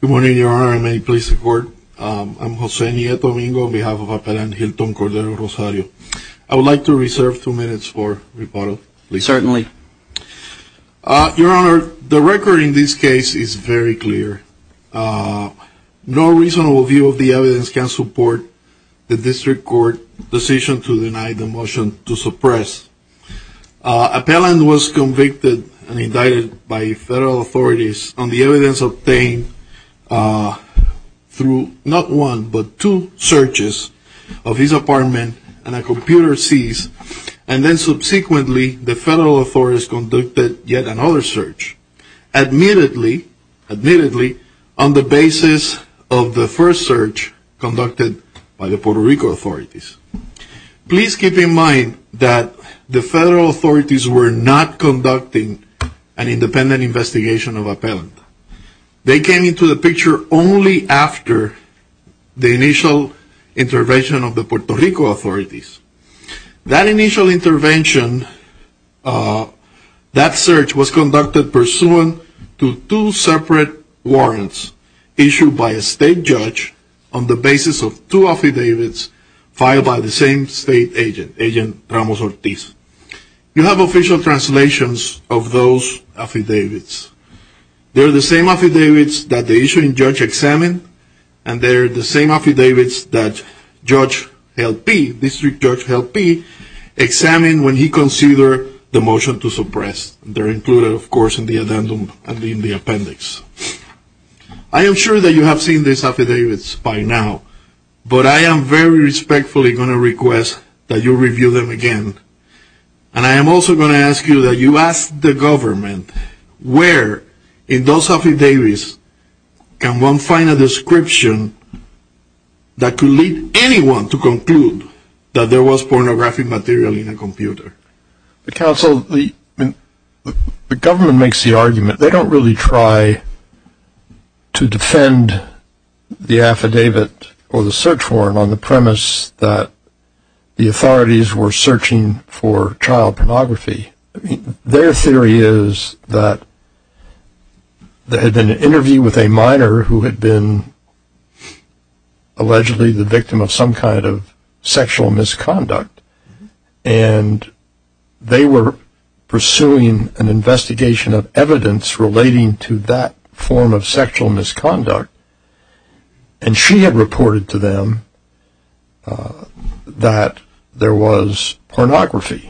Good morning, Your Honor, and may it please the Court. I'm Jose Nieto Domingo on behalf of Appellant Hilton Cordero-Rosario. I would like to reserve two minutes for rebuttal. Certainly. Your Honor, the record in this case is very clear. No reasonable view of the evidence can support the District Court's decision to deny the motion to suppress. Appellant was convicted and indicted by federal authorities on the evidence obtained through not one but two searches of his apartment and a computer and then subsequently the federal authorities conducted yet another search. Admittedly, on the basis of the first search conducted by the Puerto Rico authorities. Please keep in mind that the federal authorities were not conducting an independent investigation of Appellant. They came into the picture only after the initial intervention of the Puerto That initial intervention, that search was conducted pursuant to two separate warrants issued by a state judge on the basis of two affidavits filed by the same state agent, Agent Ramos-Ortiz. You have official translations of those affidavits. They're the same affidavits that the issuing judge examined and they're the same affidavits that Judge L. P., District Judge L. P. examined when he considered the motion to suppress. They're included of course in the addendum and in the appendix. I am sure that you have seen these affidavits by now but I am very respectfully going to request that you review them again and I am also going to ask you that you ask the government where in those affidavits can one find a description that could lead anyone to conclude that there was pornographic material in a computer. The council, the government makes the argument. They don't really try to defend the affidavit or the search warrant on the premise that the authorities were searching for child pornography. Their theory is that there had been an interview with a minor who had been allegedly the victim of some kind of sexual misconduct and they were pursuing an investigation of evidence relating to that form of sexual misconduct and she had reported to them that there was pornography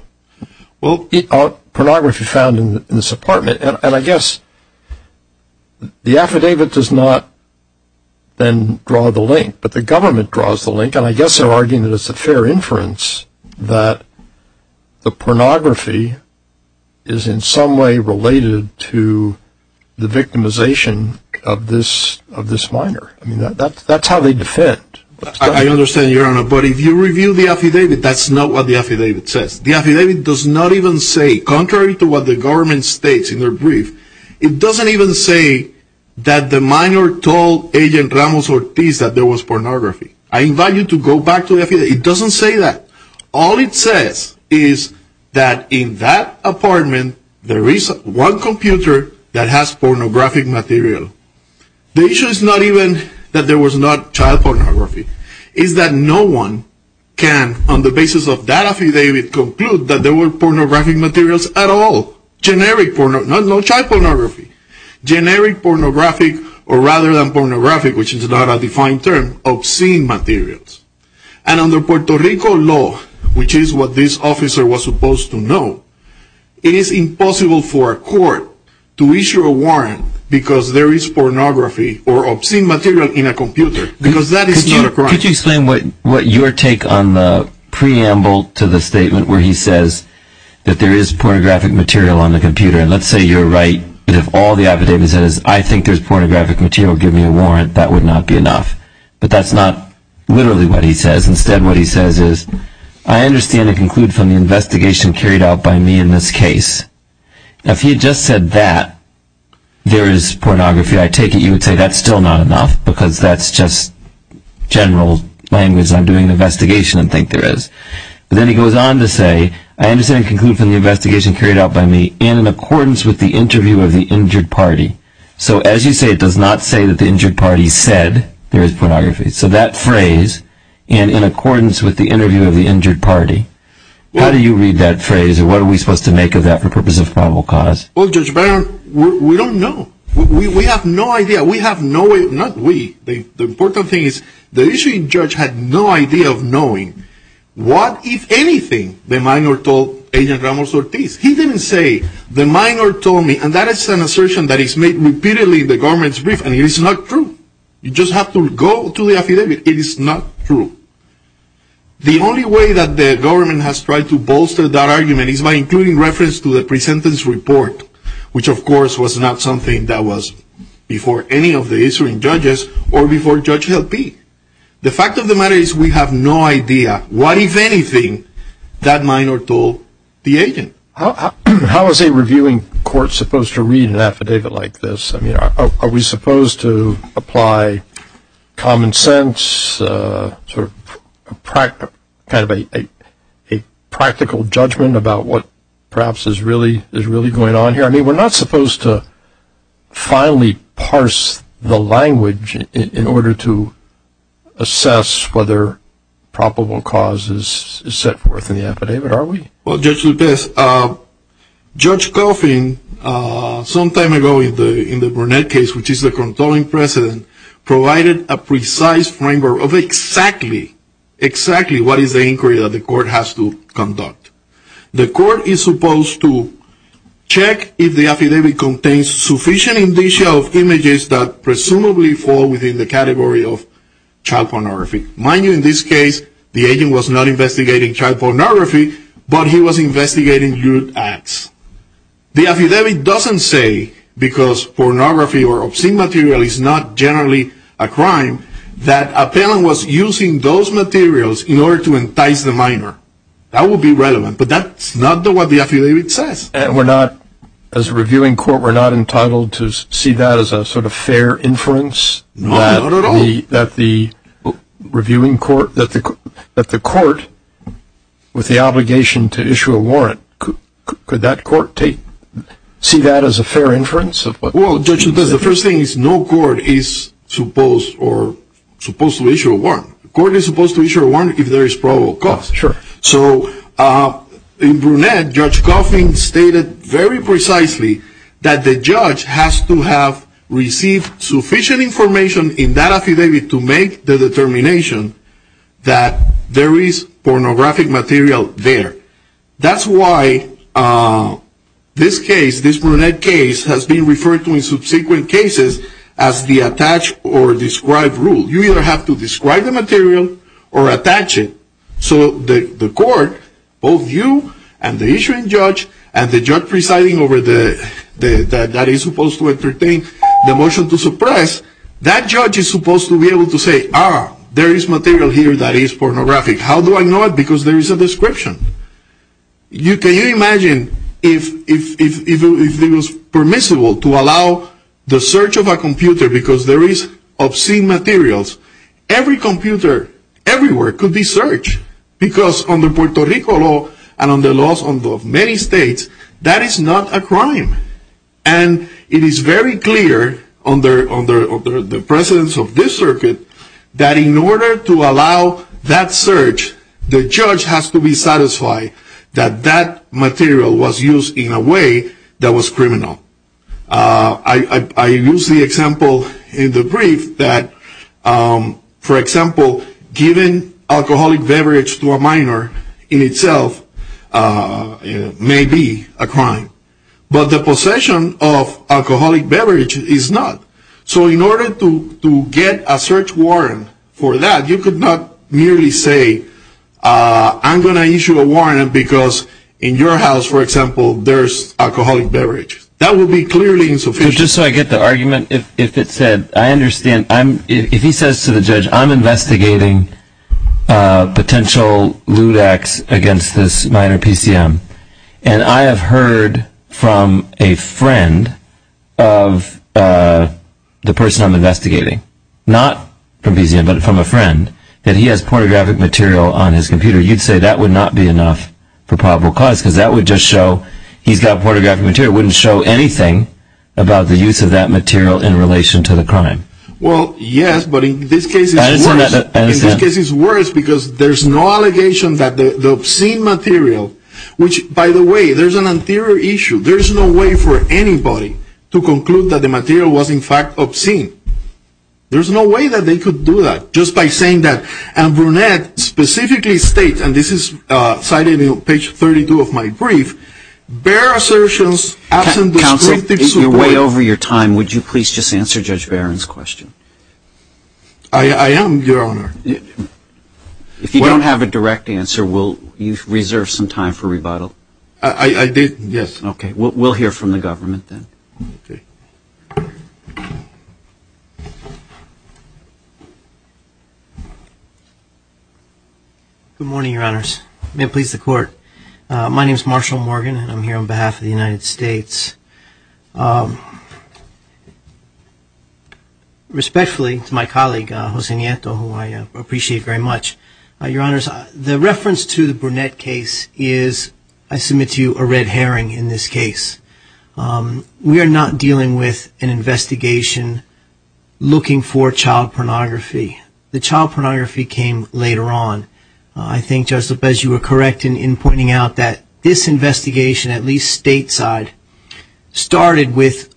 found in this apartment and I guess the affidavit does not then draw the link but the government draws the link and I guess they're arguing that it's a fair inference that the pornography is in some way related to the victimization of this minor. That's how they defend. I understand your honor but if you review the affidavit that's not what the affidavit says. The affidavit does not even say contrary to what the government states in their brief it doesn't even say that the minor told agent Ramos Ortiz that there was pornography. I invite you to go back to the affidavit. It doesn't say that. All it says is that in that apartment there is one computer that has pornographic material. The issue is not even that there was not child pornography. It's that no one can on the basis of that affidavit conclude that there were pornographic materials at all. Generic pornography, not child pornography. Generic pornographic or rather than pornographic which is not a defined term obscene materials and under Puerto Rico law which is what this officer was supposed to know it is impossible for a court to issue a warrant because there is pornography or obscene material in a computer because that is not a crime. Could you explain what your take on the preamble to the statement where he says that there is pornographic material on the computer and let's say you're right if all the affidavit says I think there's pornographic material give me a warrant that would not be enough. But that's not literally what he says. Instead what he says is I understand and conclude from the investigation carried out by me in this case. If he had just said that there is pornography I take it you would say that's still not enough because that's just general language that I'm doing an investigation and think there is. But then he goes on to say I understand and conclude from the investigation carried out by me and in accordance with the interview of the injured party. So as you say it does not say that the injured party said there is pornography. So that phrase and in accordance with the interview of the injured party. How do you read that phrase or what are we supposed to make of that for We don't know. We have no idea. We have no way, not we, the important thing is the issuing judge had no idea of knowing what if anything the minor told agent Ramos Ortiz. He didn't say the minor told me and that is an assertion that is made repeatedly in the government's brief and it is not true. You just have to go to the affidavit. It is not true. The only way that the government has tried to bolster that argument is by including reference to the presentence report which of course was not something that was before any of the issuing judges or before Judge Helpe. The fact of the matter is we have no idea what if anything that minor told the agent. How is a reviewing court supposed to read an affidavit like this? I mean are we supposed to apply common sense, a practical judgment about what perhaps is really going on here? I mean we are not supposed to finally parse the language in order to assess whether probable cause is set forth in the affidavit are we? Well Judge Lupez, Judge Coffin some time ago in the Brunette case which is the controlling precedent provided a precise framework of exactly, exactly what is the inquiry that we are supposed to conduct. The court is supposed to check if the affidavit contains sufficient indicia of images that presumably fall within the category of child pornography. Mind you in this case the agent was not investigating child pornography but he was investigating youth acts. The affidavit doesn't say because pornography or obscene material is not generally a crime that a parent was using those materials in order to entice the minor. That would be relevant but that's not what the affidavit says. We're not, as a reviewing court we're not entitled to see that as a sort of fair inference? No, not at all. That the reviewing court, that the court with the obligation to issue a warrant, could that court take, see that as a fair inference? Well Judge Lupez the first thing is no court is supposed to issue a warrant. The court is supposed to issue a warrant if there is probable cause. Sure. So in Brunette Judge Coffin stated very precisely that the judge has to have received sufficient information in that affidavit to make the determination that there is pornographic material there. That's why this case, this Brunette case has been referred to in subsequent cases as the attach or describe rule. You either have to describe the material or attach it so the court, both you and the issuing judge and the judge presiding over the, that is supposed to entertain the motion to suppress, that judge is supposed to be able to say, ah, there is material here that is pornographic. How do I know it? Because there is a description. Can you imagine if it was permissible to allow the search of a computer because there is obscene materials. Every computer, everywhere could be searched. Because under Puerto Rico law and under the laws of many states, that is not a crime. And it is very clear under the presence of this circuit that in order to allow that search, the judge has to be satisfied that that material was used in a way that was criminal. I use the example in the brief that, for example, giving alcoholic beverage to a minor in itself may be a crime. But the possession of alcoholic beverage is not. So in order to get a search warrant for that, you could not merely say, ah, I'm going to issue a warrant because in your house, for example, there is alcoholic beverage. That would be clearly insufficient. Just so I get the argument, if it said, I understand, if he says to the judge, I'm from a friend of the person I'm investigating, not from a friend, that he has pornographic material on his computer, you'd say that would not be enough for probable cause because that would just show he's got pornographic material. It wouldn't show anything about the use of that material in relation to the crime. Well, yes, but in this case it's worse because there's no allegation that the obscene material, which, by the way, there's an anterior issue. There's no way for anybody to conclude that the material was, in fact, obscene. There's no way that they could do that. Just by saying that, and Brunette specifically states, and this is cited in page 32 of my brief, bear assertions absent descriptive support. Counsel, you're way over your time. Would you please just answer Judge Barron's question? I am, Your Honor. If you don't have a direct answer, will you reserve some time for rebuttal? I did, yes. Okay. We'll hear from the government then. Good morning, Your Honors. May it please the Court. My name is Marshall Morgan, and I'm appreciate it very much. Your Honors, the reference to the Brunette case is, I submit to you, a red herring in this case. We are not dealing with an investigation looking for child pornography. The child pornography came later on. I think, Judge Lopez, you were correct in pointing out that this investigation, at least stateside, started with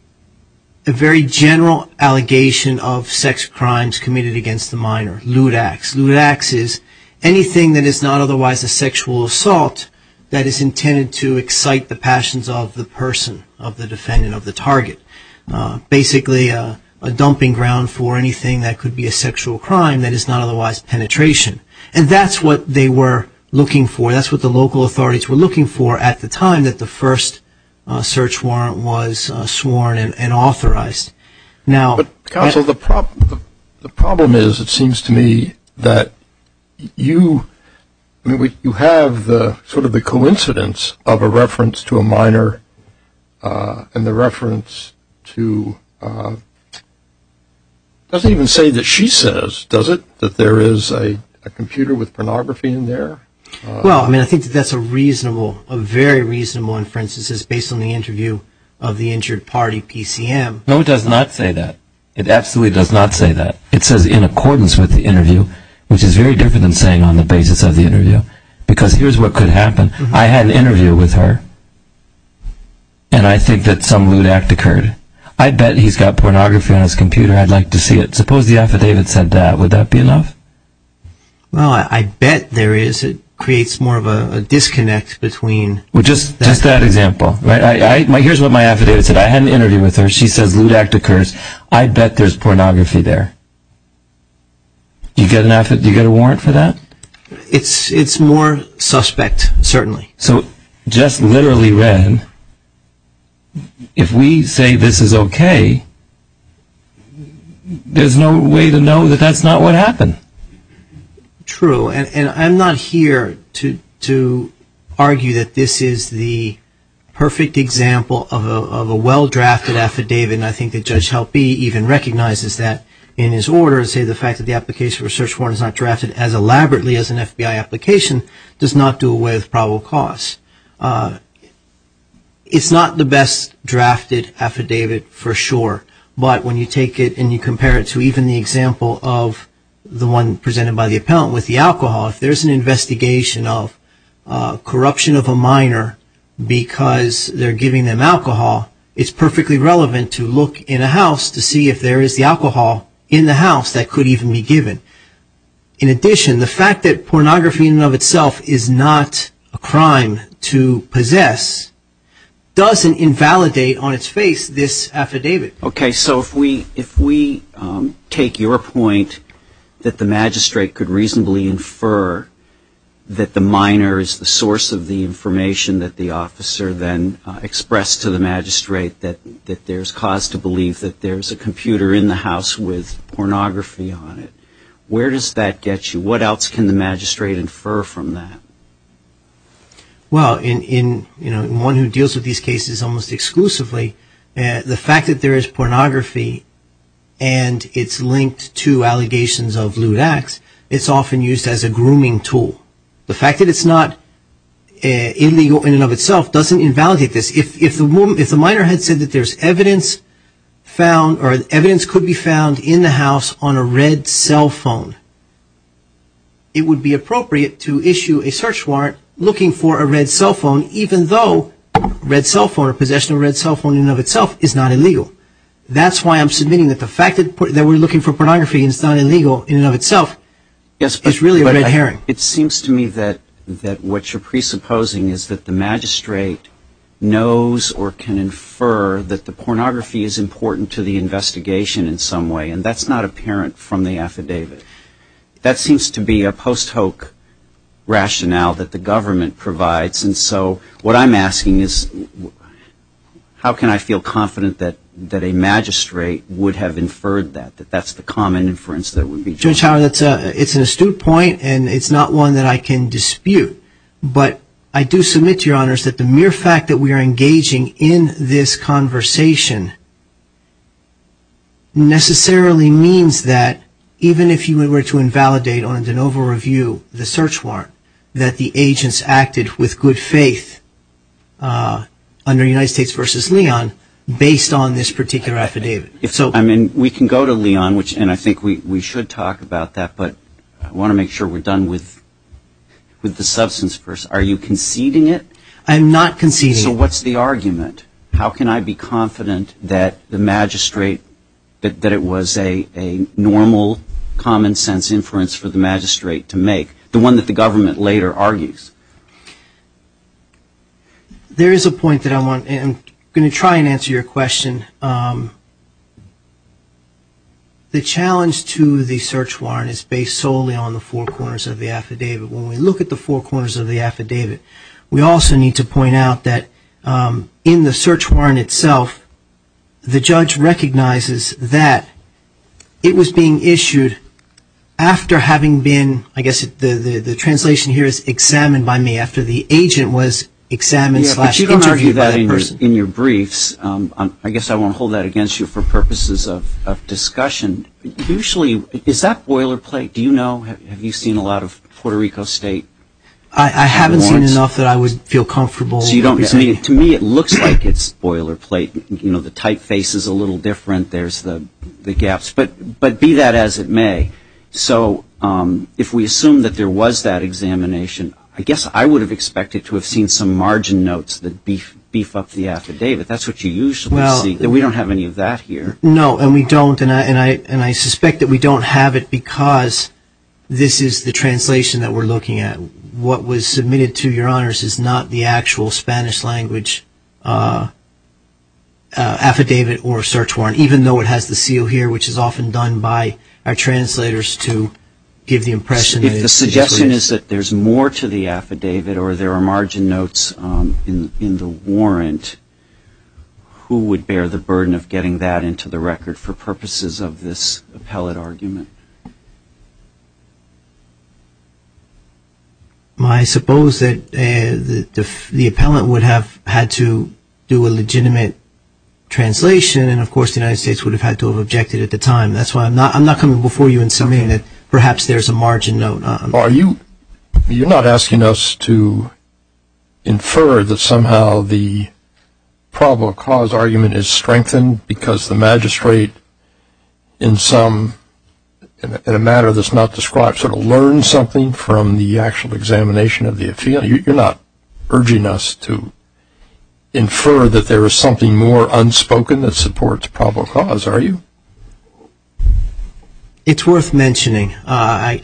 a very general allegation of sex crimes committed against the minor, lewd acts. Lewd acts is anything that is not otherwise a sexual assault that is intended to excite the passions of the person, of the defendant, of the target. Basically, a dumping ground for anything that could be a sexual crime that is not otherwise penetration. And that's what they were looking for. That's what the local authorities were looking for at the time that the first search warrant was sworn and authorized. But, Counsel, the problem is, it seems to me, that you have sort of the coincidence of a reference to a minor and the reference to, it doesn't even say that she says, does it, that there is a computer with pornography in there? Well, I mean, I think that's a reasonable, a very reasonable inference. It says, based on the interview of the injured party, PCM. No, it does not say that. It absolutely does not say that. It says, in accordance with the interview, which is very different than saying on the basis of the interview, because here's what could happen. I had an interview with her, and I think that some lewd act occurred. I bet he's got pornography on his computer. I'd like to see it. Suppose the affidavit said that. Would that be enough? Well, I bet there is. It creates more of a disconnect between... Well, just that example. Here's what my affidavit said. I had an interview with her. She says lewd act occurs. I bet there's pornography there. Do you get a warrant for that? It's more suspect, certainly. So, just literally read, if we say this is okay, there's no way to know that that's not what happened. True. And I'm not here to argue that this is the perfect example of a well-drafted affidavit. And I think that Judge Halperin even recognizes that in his order, and say the fact that the application for a search warrant is not drafted as elaborately as an FBI application does not do away with probable cause. It's not the best drafted affidavit for sure. But when you take it and you compare it to even the example of the one presented by the appellant with the alcohol, if there's an investigation of corruption of a minor because they're giving them alcohol, it's perfectly relevant to look in a house to see if there is the alcohol in the house that could even be given. In addition, the fact that pornography in and of itself is not a crime to possess doesn't invalidate on its face this affidavit. Okay. So if we take your point that the magistrate could reasonably infer that the minor is the source of the information that the officer then expressed to the magistrate, that there's cause to believe that there's a computer in the house with pornography on it, where does that get you? What else can the magistrate infer from that? Well, in one who deals with these cases almost exclusively, the fact that there is pornography and it's linked to allegations of lewd acts, it's often used as a grooming tool. The fact that it's not illegal in and of itself doesn't invalidate this. If the minor had said that there's evidence found or evidence could be found in the house on a red cell phone, it would be appropriate to issue a search warrant looking for a red cell phone even though a red cell phone or possession of a red cell phone in and of itself is not illegal. That's why I'm submitting that the fact that we're looking for pornography and it's not illegal in and of itself is really a red herring. It seems to me that what you're presupposing is that the magistrate knows or can infer that the pornography is important to the investigation in some way, and that's not apparent from the affidavit. That seems to be a post-hoc rationale that the government provides. And so what I'm asking is, how can I feel confident that a magistrate would have inferred that, that that's the common inference that would be true? Judge Howard, it's an astute point, and it's not one that I can dispute. But I do submit to your honors that the mere fact that we are engaging in this conversation necessarily means that even if you were to invalidate on a de novo review the search warrant, that the agents acted with good faith under United States v. Leon based on this particular affidavit. If so, I mean, we can go to Leon, and I think we should talk about that, but I want to make sure we're done with the substance first. Are you conceding it? I'm not conceding it. So what's the argument? How can I be confident that the magistrate, that it was a normal common sense inference for the magistrate to make, the one that the government later argues? There is a point that I want, and I'm going to try and answer your question. The challenge to the search warrant is based solely on the four corners of the affidavit. When we look at the four corners of the affidavit, we also need to point out that in the search warrant itself, the judge recognizes that it was being issued after having been, I guess the translation here is examined by me, after the agent was examined slash interviewed by that person. Yeah, but you don't argue that in your briefs. I guess I won't hold that against you for purposes of discussion. Usually, is that boilerplate? Do you know, have you seen a lot of Puerto Rico State? I haven't seen enough that I would feel comfortable representing. To me, it looks like it's boilerplate. You know, the typeface is a little different. There's the gaps, but be that as it may. So if we assume that there was that examination, I guess I would have expected to have seen some margin notes that beef up the affidavit. That's what you usually see. We don't have any of that here. No, and we don't, and I suspect that we don't have it because this is the translation that we're looking at. What was submitted to Your Honors is not the actual Spanish language affidavit or search warrant, even though it has the seal here, which is often done by our translators to give the impression that it's the truth. If the suggestion is that there's more to the affidavit or there are margin notes in the warrant, who would bear the burden of getting that into the record for purposes of this appellate argument? I suppose that the appellant would have had to do a legitimate translation, and of course the United States would have had to have objected at the time. That's why I'm not coming before you in submitting that perhaps there's a margin note. Are you, you're not asking us to infer that somehow the probable cause argument is strengthened because the magistrate in some, in a matter that's not described, sort of learned something from the actual examination of the affidavit? You're not urging us to infer that there is something more unspoken that supports probable cause, are you? It's worth mentioning. Why?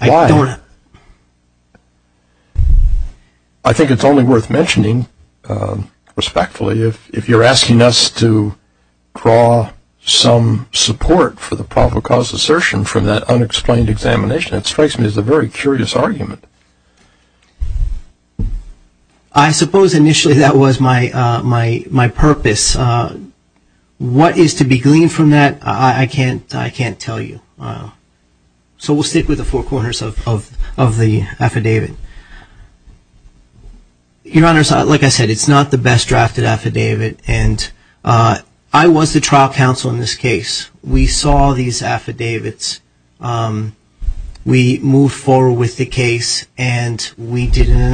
I think it's only worth mentioning, respectfully, if you're asking us to draw some support for the probable cause assertion from that unexplained examination. It strikes me as a very curious argument. I suppose initially that was my purpose. What is to be gleaned from that, I can't tell you. So we'll stick with the four corners of the affidavit. Your Honor, like I said, it's not the best drafted affidavit, and I was the trial counsel in this case. We saw these affidavits. We moved forward with the case, and we did an investigation.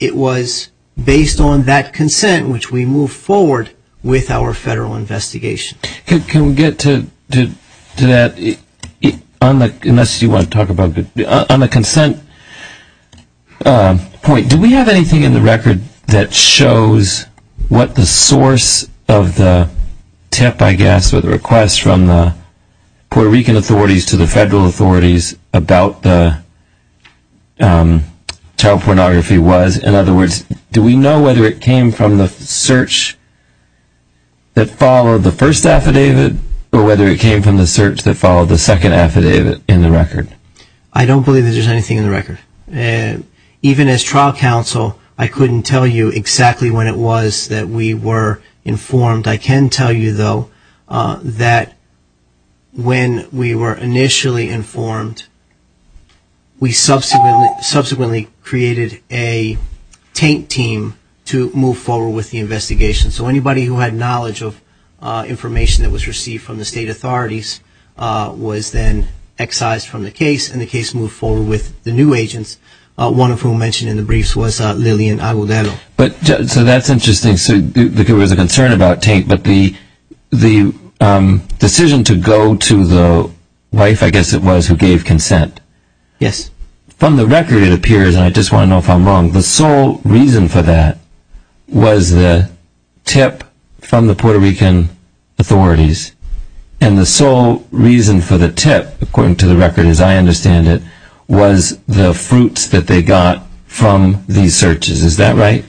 It was based on that consent, which we moved forward with our federal investigation. Can we get to that? Unless you want to talk about the, on the consent point, do we have anything in the record that shows what the source of the tip, I guess, or the request from the Puerto Rican authorities to the federal authorities about the child pornography was? In other words, do we know whether it came from the search that followed the first affidavit, or whether it came from the search that followed the second affidavit in the record? I don't believe that there's anything in the record. Even as trial counsel, I couldn't tell you exactly when it was that we were informed. I can tell you, though, that when we were initially informed, we subsequently created a taint team to move forward with the investigation. So anybody who had knowledge of information that was received from the state authorities was then excised from the case, and the case moved forward with the one of whom mentioned in the briefs was Lillian Agudelo. So that's interesting. So there was a concern about taint, but the decision to go to the wife, I guess it was, who gave consent. Yes. From the record, it appears, and I just want to know if I'm wrong, the sole reason for that was the tip from the Puerto Rican authorities, and the sole reason for the tip, according to the record as I understand it, was the fruits that they got from these searches. Is that right?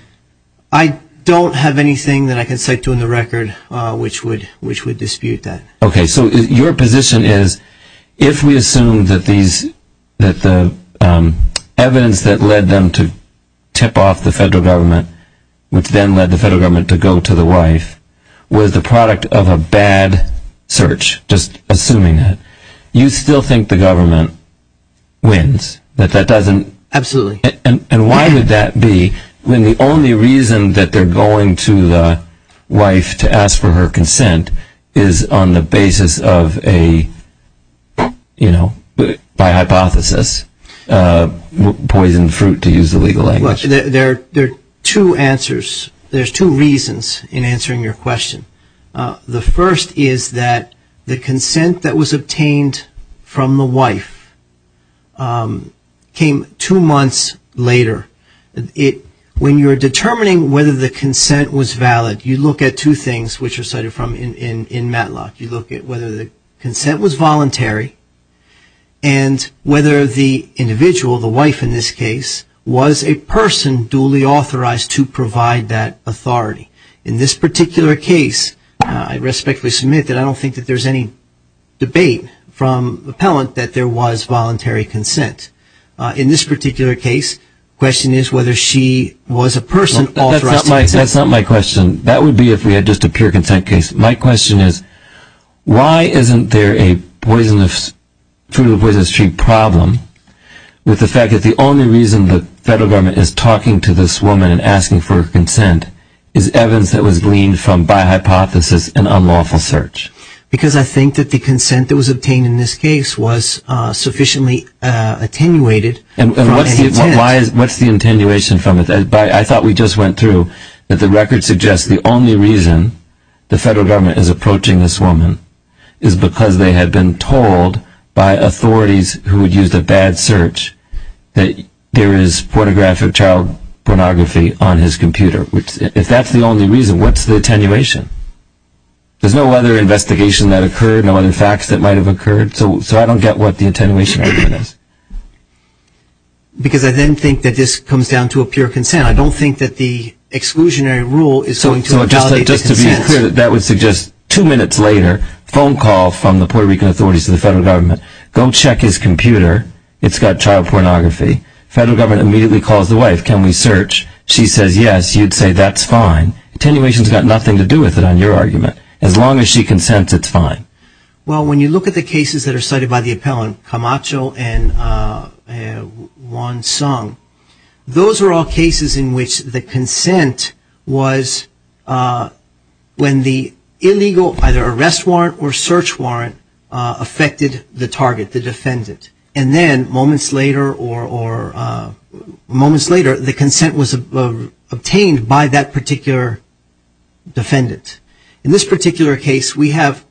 I don't have anything that I can cite to in the record which would dispute that. Okay. So your position is, if we assume that the evidence that led them to tip off the federal government, which then led the federal government to go to the wife, was the product of a bad search, just assuming that, you still think the government wins? Absolutely. And why would that be when the only reason that they're going to the wife to ask for her consent is on the basis of a, you know, by hypothesis, poisoned fruit, to use the legal language. There are two answers. There's two reasons in answering your question. The first is that the consent that was obtained from the wife came two months later. When you're determining whether the consent was valid, you look at two things which are cited in Matlock. You look at whether the consent was voluntary, and whether the individual, the wife in this case, was a person duly authorized to provide that authority. In this particular case, I respectfully submit that I don't think that there's any debate from the appellant that there was voluntary consent. In this particular case, the question is whether she was a person authorized to consent. That's not my question. That would be if we had just a pure consent case. My question is, why isn't there a fruit of the poisonous tree problem with the fact that the only reason the federal government is talking to this woman and asking for consent is evidence that was gleaned from, by hypothesis, an unlawful search? Because I think that the consent that was obtained in this case was sufficiently attenuated from the intent. And what's the attenuation from it? I thought we just went through that the record suggests the only reason the federal government is approaching this woman is because they had been told by authorities who had used a bad search that there is pornographic child pornography on his computer. If that's the only reason, what's the attenuation? There's no other investigation that occurred, no other facts that might have occurred, so I don't get what the attenuation argument is. Because I then think that this comes down to a pure consent. I don't think that the So just to be clear, that would suggest two minutes later, phone call from the Puerto Rican authorities to the federal government. Go check his computer. It's got child pornography. Federal government immediately calls the wife. Can we search? She says yes. You'd say that's fine. Attenuation's got nothing to do with it on your argument. As long as she consents, it's fine. Well, when you look at the cases that are cited by the appellant, Camacho and Wansung, those are all cases in which the consent was when the illegal either arrest warrant or search warrant affected the target, the defendant. And then moments later, the consent was obtained by that particular defendant. In this particular case, we have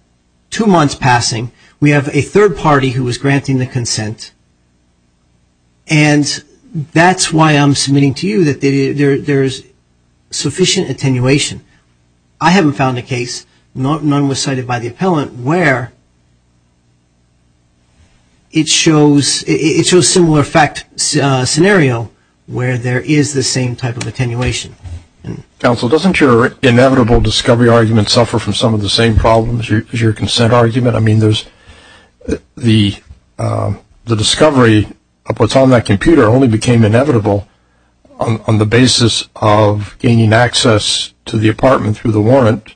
two months passing. We have a third party who was granting the consent. And that's why I'm submitting to you that there's sufficient attenuation. I haven't found a case, none was cited by the appellant, where it shows similar fact scenario where there is the same type of attenuation. Counsel, doesn't your inevitable discovery argument suffer from some of the same problems as your consent argument? I mean, the discovery of what's on that computer only became inevitable on the basis of gaining access to the apartment through the warrant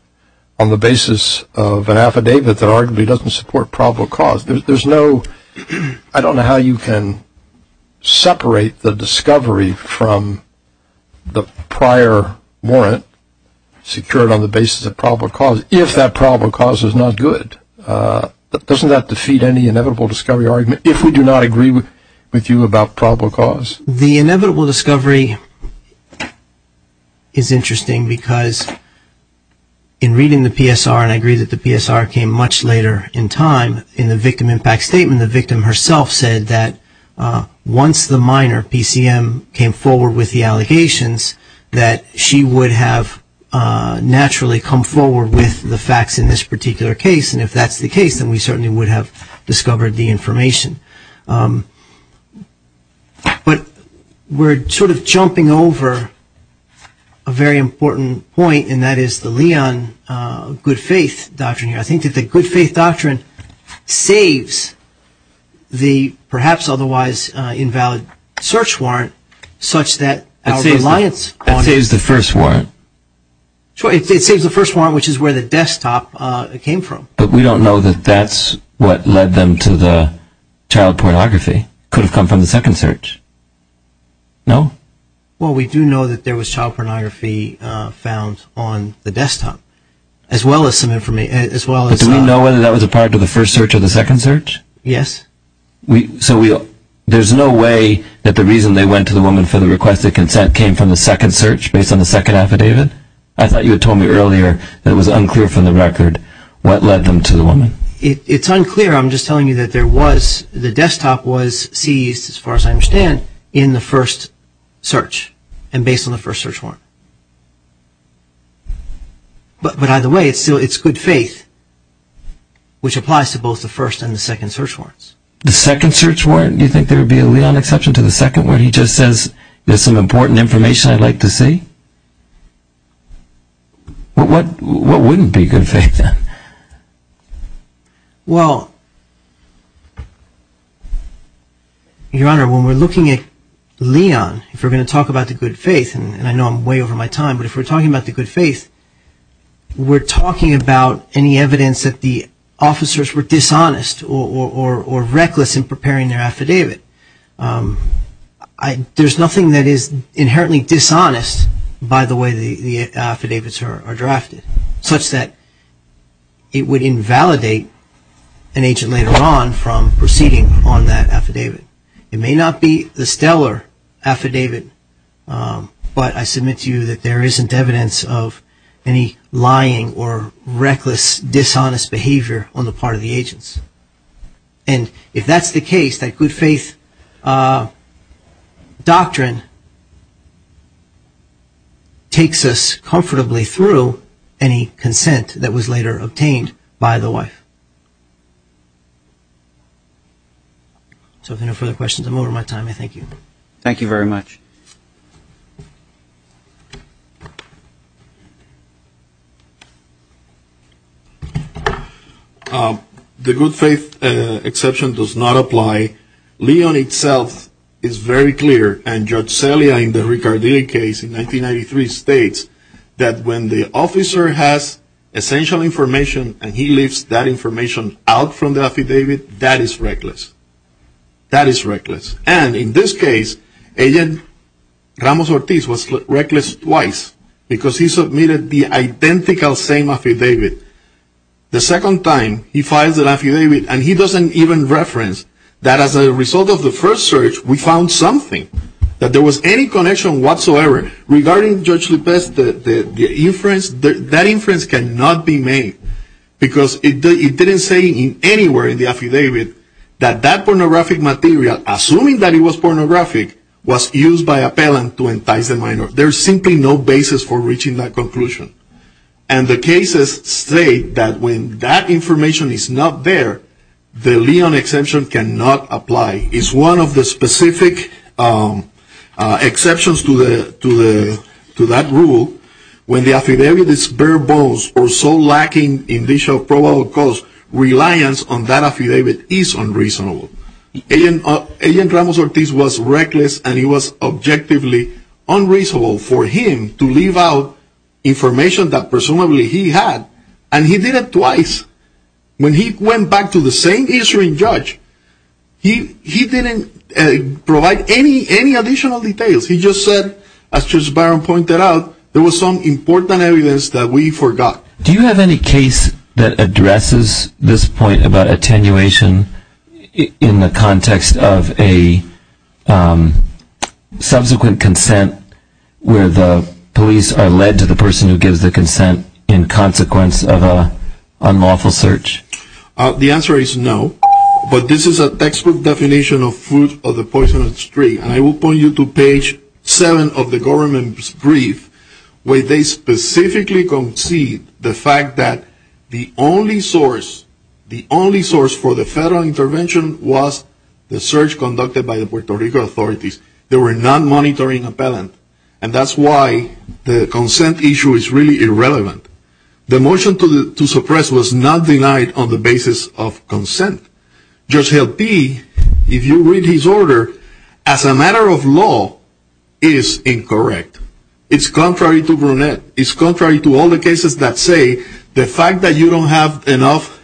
on the basis of an affidavit that arguably doesn't support probable cause. There's no – I don't know how you can separate the discovery from the prior warrant secured on the basis of probable cause, if that probable cause is not good. Doesn't that defeat any inevitable discovery argument, if we do not agree with you about probable cause? The inevitable discovery is interesting because in reading the PSR, and I agree that the PSR came much later in time, in the victim impact statement, the victim herself said that once the minor, PCM, came forward with the allegations, that she would have naturally come forward with the facts in this particular case, and if that's the case, then we certainly would have discovered the information. But we're sort of jumping over a very important point, and that is the Leon good faith doctrine. I think that the good faith doctrine saves the perhaps otherwise invalid search warrant such that our reliance… It saves the first warrant. It saves the first warrant, which is where the desktop came from. But we don't know that that's what led them to the child pornography. It could have come from the second search. No? Well, we do know that there was child pornography found on the desktop, as well as some information… But do we know whether that was a part of the first search or the second search? Yes. So there's no way that the reason they went to the woman for the request of consent came from the second search, based on the second affidavit? I thought you had told me earlier that it was unclear from the record what led them to the woman. It's unclear. I'm just telling you that the desktop was seized, as far as I understand, in the first search, and based on the first search warrant. But either way, it's good faith, which applies to both the first and the second search warrants. The second search warrant, do you think there would be a Leon exception to the second where he just says, there's some important information I'd like to see? What wouldn't be good faith then? Well, Your Honor, when we're looking at Leon, if we're going to talk about the good faith, and I know I'm way over my time, but if we're talking about the good faith, we're talking about any evidence that the officers were dishonest or reckless in preparing their affidavit. There's nothing that is inherently dishonest by the way the affidavits are drafted, such that it would invalidate an agent later on from proceeding on that affidavit. It may not be the stellar affidavit, but I submit to you that there isn't evidence of any lying or reckless, dishonest behavior on the part of the agents. And if that's the case, that good faith doctrine takes us comfortably through any consent that was later obtained by the wife. So if there are no further questions, I'm over my time. I thank you. Thank you very much. The good faith exception does not apply. Leon itself is very clear, and Judge Celia in the Ricardelli case in 1993 states that when the officer has essential information and he leaves that information out from the affidavit, that is reckless. That is reckless. And in this case, agent Ramos Ortiz was reckless twice because he submitted the identical same affidavit. The second time he files an affidavit and he doesn't even reference that as a result of the first search, we found something, that there was any connection whatsoever. Regarding Judge Lippest, that inference cannot be made because it didn't say anywhere in the affidavit that that pornographic material, assuming that it was pornographic, was used by a pellant to entice the minor. There is simply no basis for reaching that conclusion. And the cases state that when that information is not there, the Leon exception cannot apply. It's one of the specific exceptions to that rule. When the affidavit is verbose or so lacking in the issue of probable cause, reliance on that affidavit is unreasonable. Agent Ramos Ortiz was reckless and it was objectively unreasonable for him to leave out information that presumably he had, and he did it twice. When he went back to the same issuing judge, he didn't provide any additional details. He just said, as Judge Barron pointed out, there was some important evidence that we forgot. Do you have any case that addresses this point about attenuation in the context of a subsequent consent where the police are led to the person who gives the consent in consequence of an unlawful search? The answer is no. But this is a textbook definition of fruit of the poisonous tree. And I will point you to page 7 of the government's brief where they specifically concede the fact that the only source, the only source for the federal intervention was the search conducted by the Puerto Rico authorities. They were not monitoring appellant. And that's why the consent issue is really irrelevant. The motion to suppress was not denied on the basis of consent. Judge Hill P., if you read his order, as a matter of law, is incorrect. It's contrary to Grunet. It's contrary to all the cases that say the fact that you don't have enough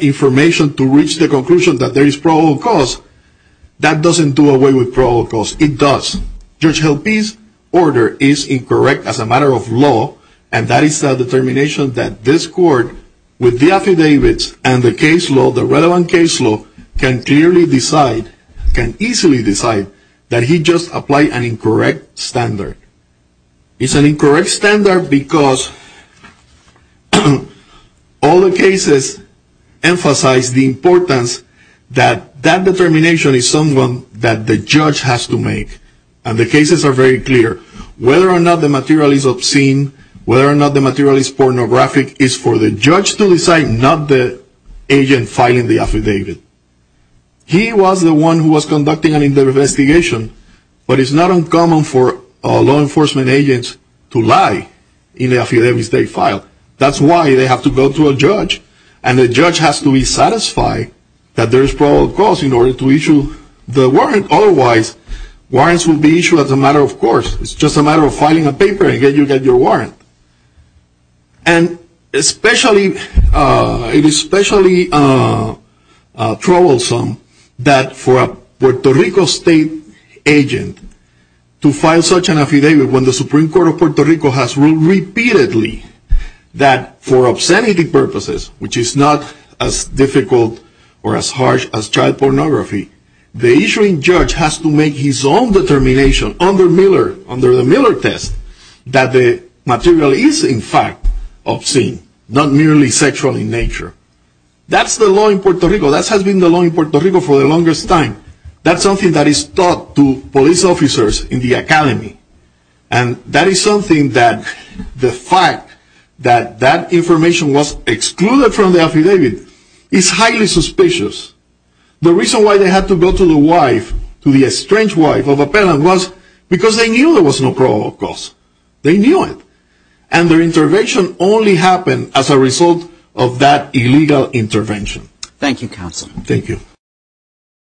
information to reach the conclusion that there is probable cause, that doesn't do away with probable cause. It does. Judge Hill P.'s order is incorrect as a matter of law. And that is the determination that this court, with the affidavits and the case law, the relevant case law, can clearly decide, can easily decide that he just applied an incorrect standard. It's an incorrect standard because all the cases emphasize the importance that that determination is something that the judge has to make. And the cases are very clear. Whether or not the material is obscene, whether or not the material is pornographic, is for the judge to decide, not the agent filing the affidavit. He was the one who was conducting an investigation. But it's not uncommon for law enforcement agents to lie in an affidavit they filed. That's why they have to go to a judge. And the judge has to be satisfied that there is probable cause in order to issue the warrant. Otherwise, warrants will be issued as a matter of course. It's just a matter of filing a paper and you get your warrant. And especially, it is especially troublesome that for a Puerto Rico state agent to file such an affidavit when the Supreme Court of Puerto Rico has ruled repeatedly that for obscenity purposes, which is not as difficult or as harsh as child pornography, the issuing judge has to make his own determination under the Miller test that the material is in fact obscene, not merely sexual in nature. That's the law in Puerto Rico. That has been the law in Puerto Rico for the longest time. That's something that is taught to police officers in the academy. And that is something that the fact that that information was excluded from the affidavit is highly suspicious. The reason why they had to go to the wife, to the estranged wife of a penitent was because they knew there was no probable cause. They knew it. And their intervention only happened as a result of that illegal intervention. Thank you, counsel. Thank you.